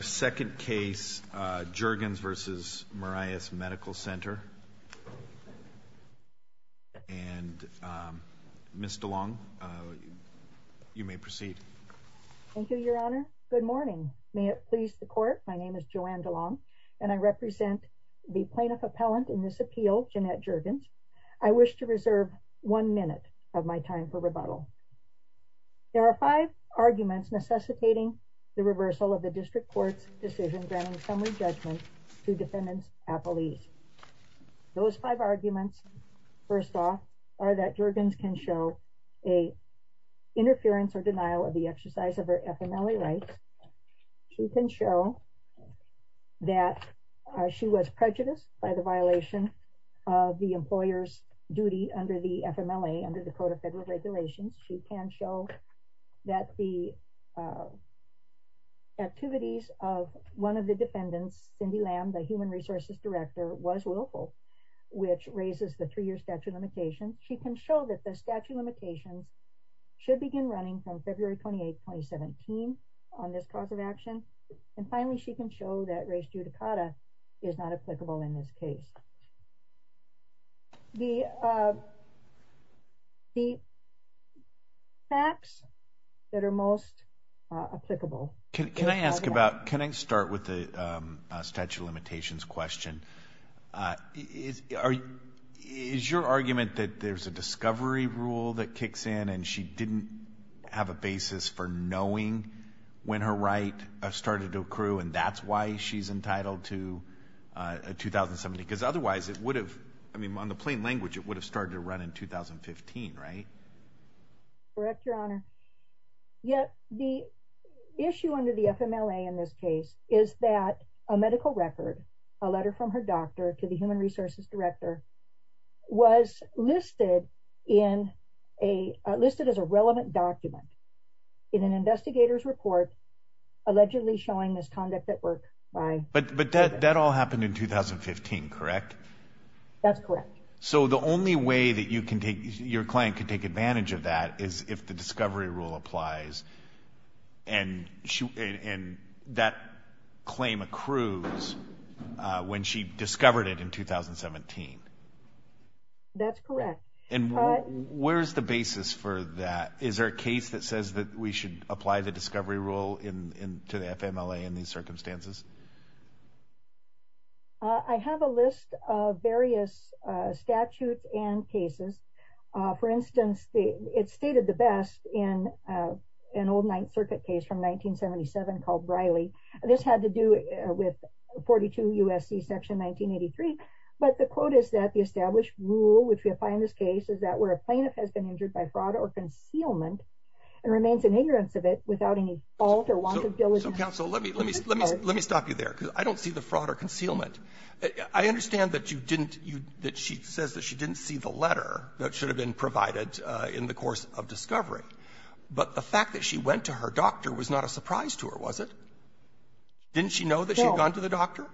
second case Jurgens v. Marias Medical Center and Ms. DeLong you may proceed thank you your honor good morning may it please the court my name is Joanne DeLong and I represent the plaintiff appellant in this appeal Jeanette Jurgens I wish to reserve one minute of my time for rebuttal there are five arguments necessitating the reversal of the district court's decision granting summary judgment to defendants appellees those five arguments first off are that Jurgens can show a interference or denial of the exercise of her FMLA rights she can show that she was prejudiced by the violation of the employers duty under the FMLA under the Code of Federal Regulations she can show that the activities of one of the defendants Cindy Lamb the human resources director was willful which raises the three-year statute limitation she can show that the statute limitations should begin running from February 28 2017 on this cause of action and finally she can show that race is not applicable in this case the facts that are most applicable can I ask about can I start with the statute of limitations question is are is your argument that there's a discovery rule that kicks in and she didn't have a basis for knowing when her right I've started to accrue and that's why she's entitled to a 2007 because otherwise it would have I mean on the plain language it would have started to run in 2015 right correct your honor yet the issue under the FMLA in this case is that a medical record a letter from her doctor to the human resources director was listed in a listed as a relevant document in an investigators report allegedly showing this conduct at work but that all happened in 2015 correct so the only way that you can take your client could take advantage of that is if the discovery rule applies and she and that claim accrues when she discovered it in 2017 and where's the basis for that is there a case that says that we should apply the discovery rule to the FMLA in these circumstances I have a list of various statutes and cases for instance the it's stated the best in an old Ninth Circuit case from 1977 called Riley this had to do with 42 USC section 1983 but the quote is that the established rule which we apply in this case is that where a plaintiff has been injured by fraud or concealment and remains in ignorance of it without any alter want to go with the council let me let me let me stop you there because I don't see the fraud or concealment I understand that you didn't you that she says that she didn't see the letter that should have been provided in the course of discovery but the fact that she went to her doctor was not a surprise to her was it didn't she know that she had gone to the doctor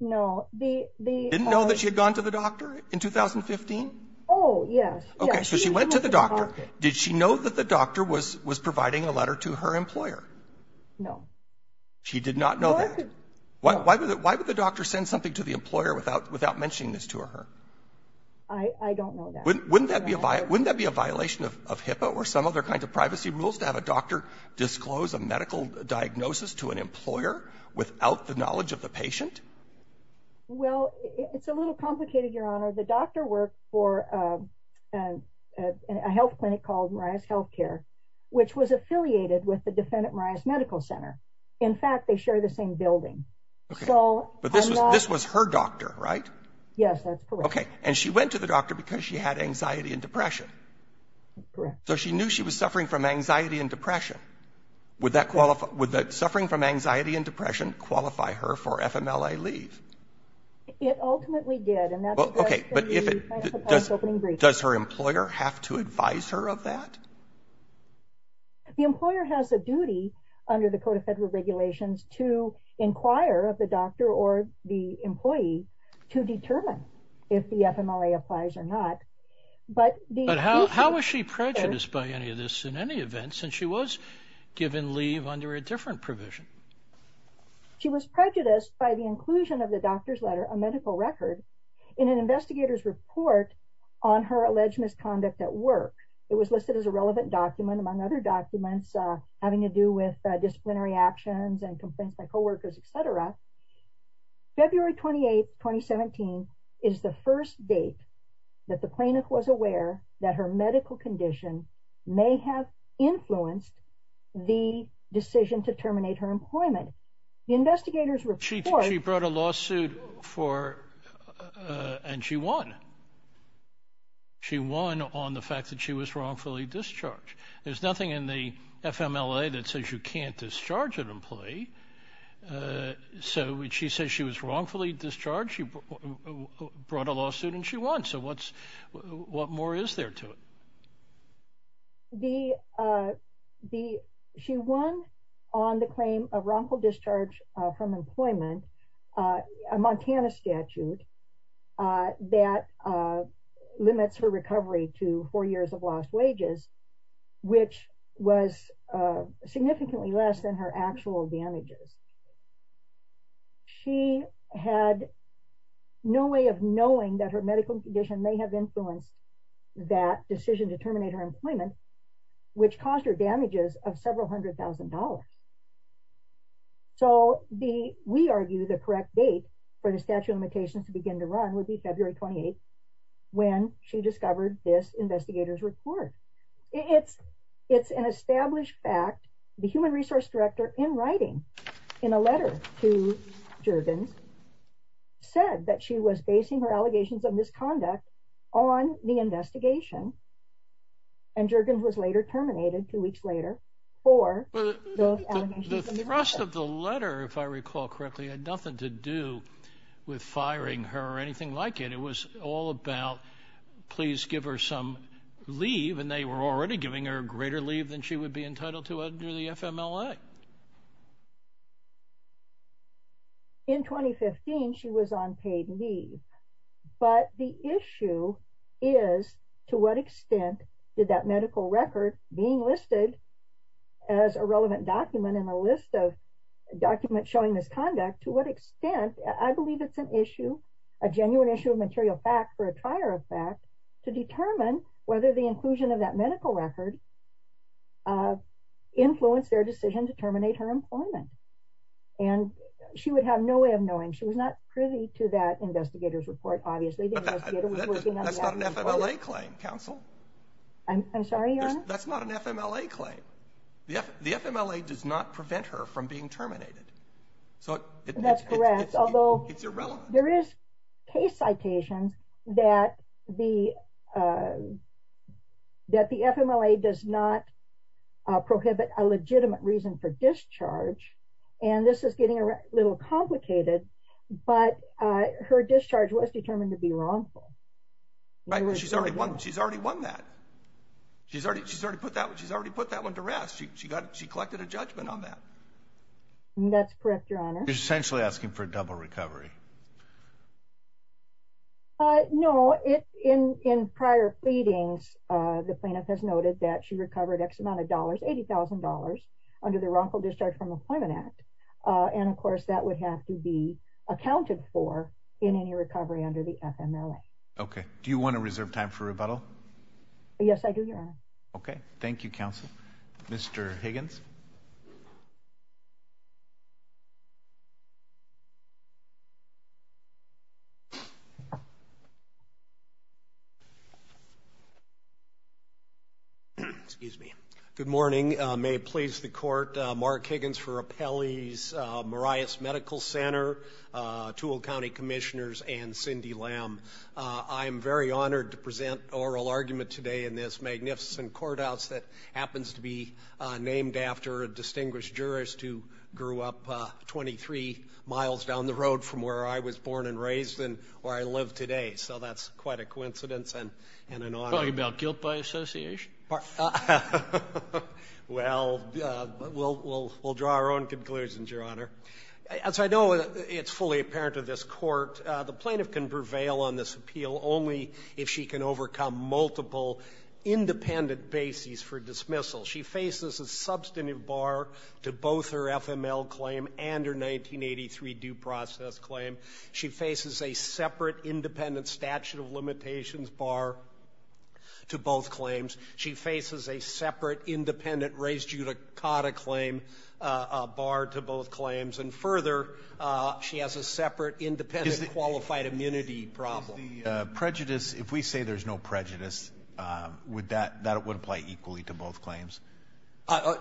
no the didn't know that she had gone to the doctor in 2015 oh yes okay so she went to the doctor did she know that the doctor was was providing a letter to her employer no she did not know what why would it why would the doctor send something to the employer without without mentioning this to her I don't know wouldn't that be a violent wouldn't that be a violation of HIPAA or some other kind of privacy rules to have a doctor disclose a medical diagnosis to an employer without the knowledge of the patient well it's a little complicated your honor the doctor worked for a health clinic called Mariah's health care which was affiliated with the defendant Mariah's Medical Center in fact they share the same building so but this was her doctor right yes okay and she went to the doctor because she had anxiety and depression so she knew she was suffering from anxiety and depression would that qualify with that suffering from anxiety and depression qualify her for FMLA leave it ultimately did and that's okay does her employer have to advise her of that the employer has a duty under the Code of Federal Regulations to inquire of the doctor or the employee to determine if the FMLA applies or not but how was she prejudiced by any of this in any event since she was given leave under a different provision she was prejudiced by the inclusion of the doctor's letter a medical record in an investigators report on her alleged misconduct at work it was listed as a relevant document among other documents having to do with disciplinary actions and complaints by co-workers etc February 28th 2017 is the first date that the plaintiff was aware that her medical condition may have influenced the decision to terminate her employment investigators report she brought a she won she won on the fact that she was wrongfully discharged there's nothing in the FMLA that says you can't discharge an employee so when she says she was wrongfully discharged she brought a lawsuit and she won so what's what more is there to it the the she won on the claim of wrongful discharge from employment a Montana statute that limits her recovery to four years of lost wages which was significantly less than her actual damages she had no way of knowing that her medical condition may have influenced that decision to terminate her employment which caused her damages of several hundred thousand dollars so the we argue the correct date for the statute of limitations to begin to run would be February 28th when she discovered this investigators report it's it's an established fact the human resource director in writing in a letter to Jurgens said that she was basing her allegations of misconduct on the rest of the letter if I recall correctly had nothing to do with firing her or anything like it it was all about please give her some leave and they were already giving her a greater leave than she would be entitled to under the FMLA in 2015 she was on paid leave but the issue is to what extent did that medical record being listed as a relevant document in the list of document showing misconduct to what extent I believe it's an issue a genuine issue of material fact for a prior effect to determine whether the inclusion of that medical record influenced their decision to terminate her employment and she would have no way of knowing she was not privy to that investigators report obviously claim counsel I'm sorry that's not an FMLA claim the FMLA does not prevent her from being terminated so that's correct although it's irrelevant there is case citations that the that the FMLA does not prohibit a legitimate reason for discharge and this is getting a little complicated but her discharge was determined to be wrongful she's already won she's already won that she's already she's already put that she's already put that one to rest she got she collected a judgment on that that's correct your honor essentially asking for a double recovery no it's in in prior pleadings the plaintiff has noted that she recovered X amount of dollars $80,000 under the wrongful discharge from Employment Act and of course that would have to be accounted for in any recovery under the FMLA okay do you want to reserve time for rebuttal yes I do your honor okay thank you counsel mr. Higgins excuse me good morning may it please the court Mark Higgins for appellees Marias Medical Center tool County Commissioners and Cindy lamb I am very honored to present oral argument today in this magnificent courthouse that happens to be named after a distinguished jurist who grew up 23 miles down the road from where I was born and raised and where I live today so that's quite a coincidence and and an honor about guilt by Association well we'll draw our own conclusions your honor as I know it's fully apparent to this court the plaintiff can prevail on this appeal only if she can overcome multiple independent bases for dismissal she faces a substantive bar to both her FML claim and her 1983 due process claim she faces a separate independent statute of limitations bar to both claims she faces a separate independent raised judicata claim to both bar to both claims and further she has a separate independent qualified immunity problem prejudice if we say there's no prejudice would that that would apply equally to both claims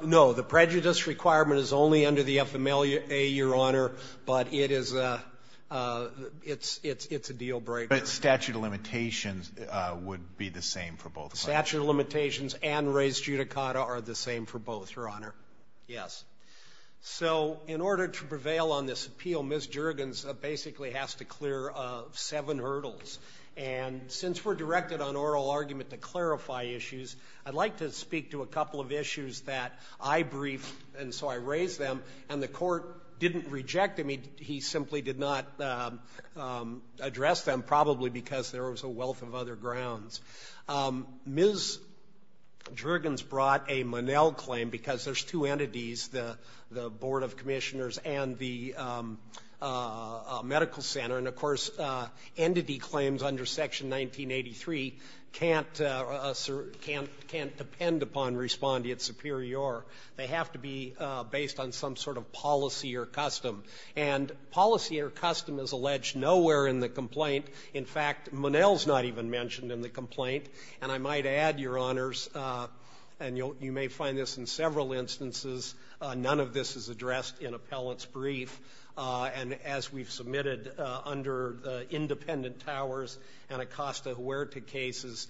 no the prejudice requirement is only under the FMLA your honor but it is a it's it's it's a deal-breaker statute of limitations would be the same for both statute of limitations and raised judicata are the so in order to prevail on this appeal Ms. Juergens basically has to clear seven hurdles and since we're directed on oral argument to clarify issues I'd like to speak to a couple of issues that I briefed and so I raised them and the court didn't reject him he simply did not address them probably because there was a wealth of other grounds Ms. Juergens brought a Monell claim because there's two entities the the board of commissioners and the medical center and of course entity claims under section 1983 can't can't can't depend upon respond to its superior they have to be based on some sort of policy or custom and policy or custom is alleged nowhere in the complaint in fact Monell's not even mentioned in the complaint and I might add your honors and you may find this in several instances none of this is addressed in appellant's brief and as we've submitted under independent towers and Acosta Huerta cases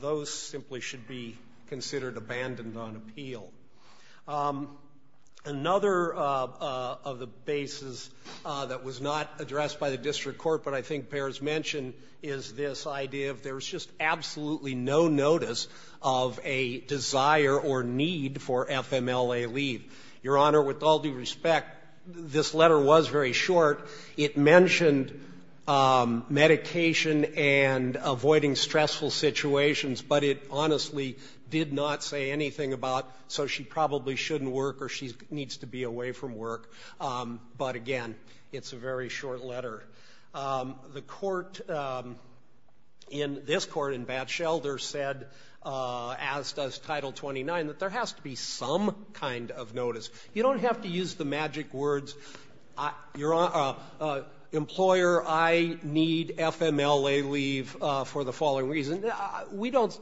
those simply should be considered abandoned on appeal another of the bases that was not addressed by the district court but I think bears mention is this idea of there's just absolutely no notice of a desire or need for FMLA leave your honor with all due respect this letter was very short it mentioned medication and avoiding stressful situations but it honestly did not say anything about so she probably shouldn't work or she needs to be away from work but again it's a very short letter the court in this court in bat shelter said as does title 29 that there has to be some kind of notice you don't have to use the magic words your employer I need FMLA leave for the following reason we don't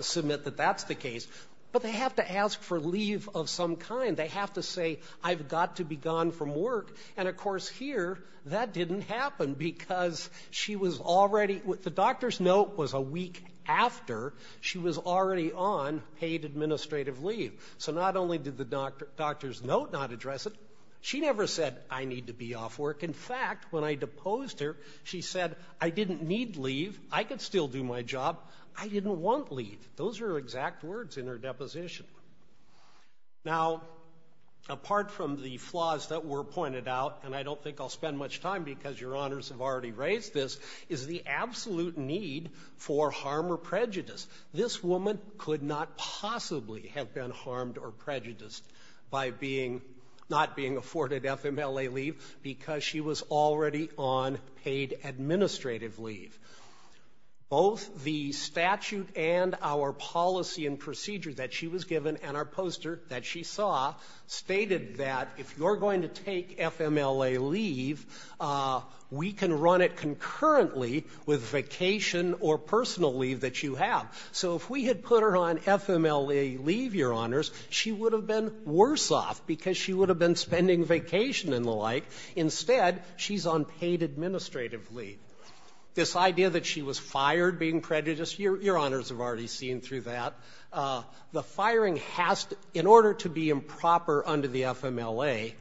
submit that that's the case but they have to ask for leave of some kind they have to say I've got to be gone from work and of course here that didn't happen because she was already with the doctor's note was a week after she was already on paid administrative leave so not only did the doctor doctor's note not address it she never said I need to be off work in fact when I deposed her she said I didn't need leave I could still do my job I didn't want leave those are exact words in her deposition now apart from the flaws that were pointed out and I don't think I'll spend much time because your honors have already raised this is the absolute need for harm or prejudice this woman could not possibly have been harmed or prejudiced by being not being afforded FMLA leave because she was already on paid administrative leave both the statute and our policy and procedure that she was given and our poster that she saw stated that if you're going to take FMLA leave we can run it concurrently with vacation or personal leave that you have so if we had put her on FMLA leave your honors she would have been worse off because she would have been spending vacation and the like instead she's on paid administrative leave this idea that she was fired being prejudiced your honors have already seen through that the firing has to in order to be improper under the FMLA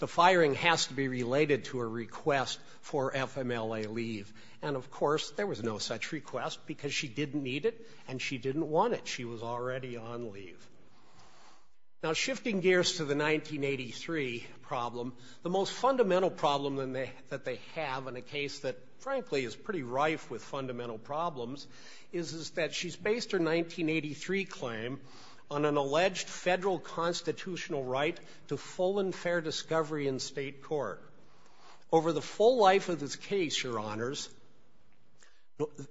the firing has to be related to a request for FMLA leave and of course there was no such request because she didn't need it and she didn't want it she was already on leave now shifting gears to the 1983 problem the most fundamental problem than they that they have in a case that frankly is pretty rife with fundamental problems is that she's based her 1983 claim on an alleged federal constitutional right to full and fair discovery in state court over the full life of this case your honors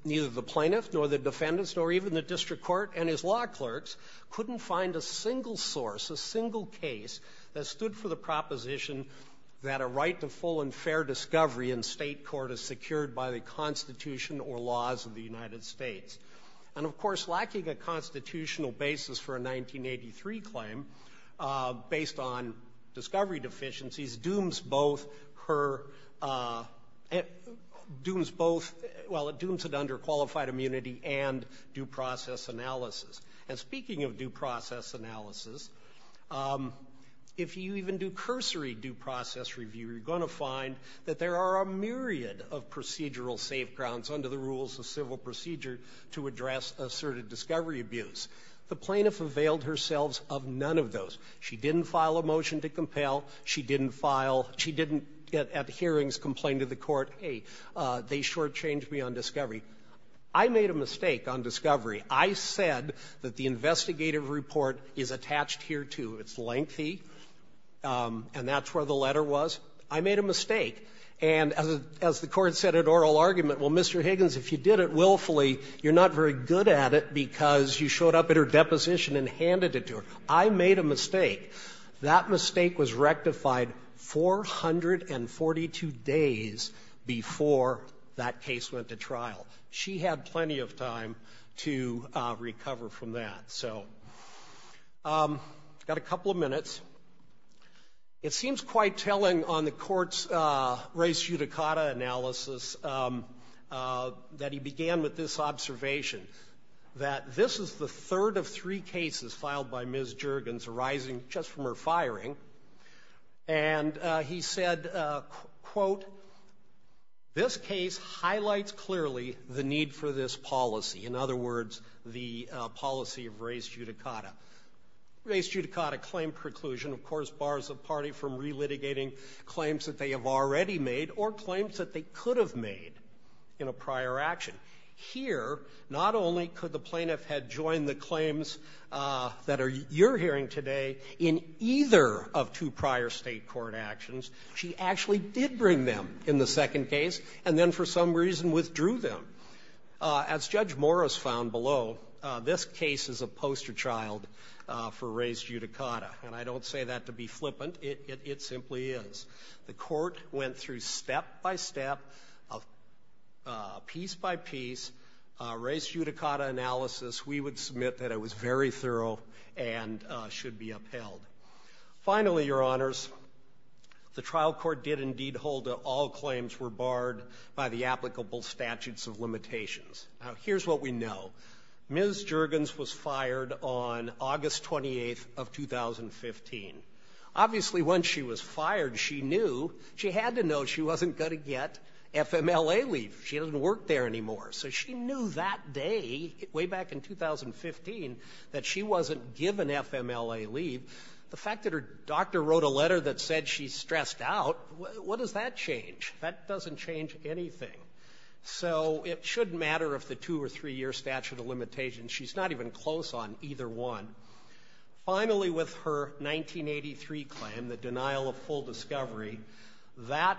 neither the plaintiff nor the defendants nor even the district court and his law clerks couldn't find a single source a single case that stood for the proposition that a right to full and fair discovery in state court is secured by the constitution or laws of the United States and of course lacking a constitutional basis for a 1983 claim based on discovery deficiencies dooms both her it dooms both well it dooms an under qualified immunity and due process analysis and speaking of due process analysis if you even do cursory due process review you're going to find that there are a myriad of procedural safe grounds under the rules of civil procedure to address asserted discovery abuse the plaintiff availed herselves of none of those she didn't file a motion to compel she didn't file she didn't get at hearings complained to the court hey they shortchanged me on discovery I made a mistake on discovery I said that the investigative report is attached here too it's lengthy and that's where the letter was I made a mistake and as the court said at oral argument well Mr. Higgins if you did it willfully you're not very good at it because you showed up at her deposition and handed it to her I made a mistake that mistake was rectified 442 days before that case went to trial she had plenty of time to recover from that so got a couple of minutes it seems quite telling on the courts race judicata analysis that he began with this observation that this is the third of three cases filed by Ms. Juergens arising just from firing and he said quote this case highlights clearly the need for this policy in other words the policy of race judicata race judicata claim preclusion of course bars a party from relitigating claims that they have already made or claims that they could have made in a prior action here not only could the plaintiff had joined the claims that are you're hearing today in either of two prior state court actions she actually did bring them in the second case and then for some reason withdrew them as Judge Morris found below this case is a poster child for race judicata and I don't say that to be flippant it simply is the court went through step by step of piece by piece race judicata analysis we would submit that it was very thorough and should be upheld finally your honors the trial court did indeed hold that all claims were barred by the applicable statutes of limitations now here's what we know Ms. Juergens was fired on August 28th of 2015 obviously once she was fired she knew she had to know she wasn't going to get FMLA leave she knew that day way back in 2015 that she wasn't given FMLA leave the fact that her doctor wrote a letter that said she's stressed out what does that change that doesn't change anything so it shouldn't matter if the two or three year statute of limitations she's not even close on either one finally with her 1983 claim the denial of full discovery that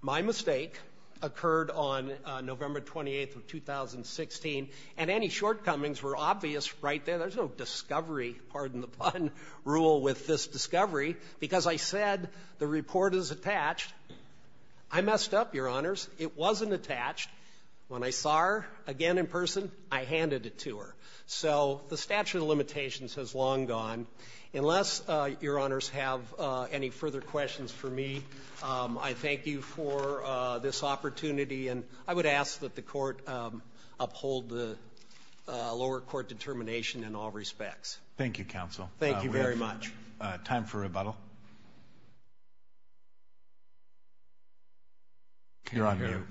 my mistake occurred on November 28th of 2016 and any shortcomings were obvious right there there's no discovery pardon the pun rule with this discovery because I said the report is attached I messed up your honors it wasn't attached when I saw her again in person I handed it to her so the statute of limitations has long gone unless your questions for me I thank you for this opportunity and I would ask that the court uphold the lower court determination in all respects thank you counsel thank you very much time for rebuttal you're on here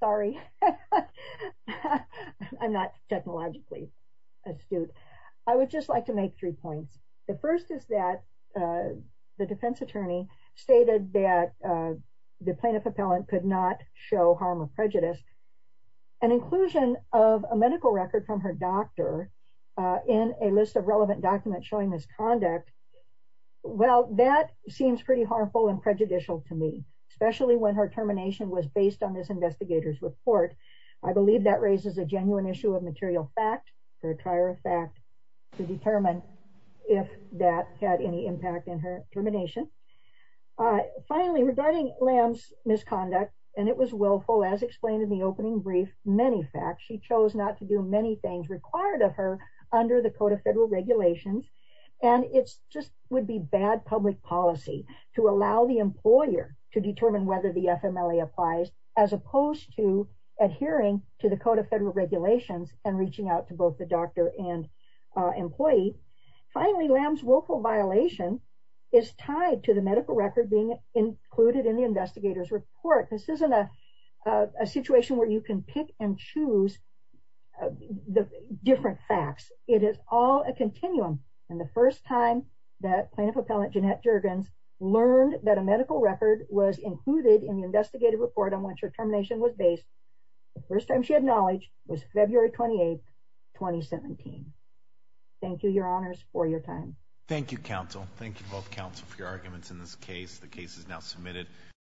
sorry I'm not technologically astute I would just like to make three points the first is that the defense attorney stated that the plaintiff appellant could not show harm or prejudice an inclusion of a medical record from her doctor in a list of relevant documents showing misconduct well that seems pretty harmful and prejudicial to me especially when her termination was based on this investigators report I believe that raises a genuine issue of material fact for a trier of fact to determine if that had any impact in her termination finally regarding lamb's misconduct and it was willful as explained in the opening brief many facts she chose not to do many things required of her under the code of federal regulations and it's just would be bad public policy to allow the employer to determine whether the FMLA applies as opposed to adhering to the code of federal regulations and reaching out to both the doctor and employee finally lamb's willful violation is tied to the medical record being included in the investigators report this isn't a situation where you can pick and choose the different facts it is all a continuum and the first time that plaintiff appellant Jeanette Juergens learned that a medical record was included in the investigative report on which her termination was based the first time she had knowledge was February 28th 2017. Thank you your honors for your time thank you counsel thank you both counsel for your arguments in this case the case is now submitted.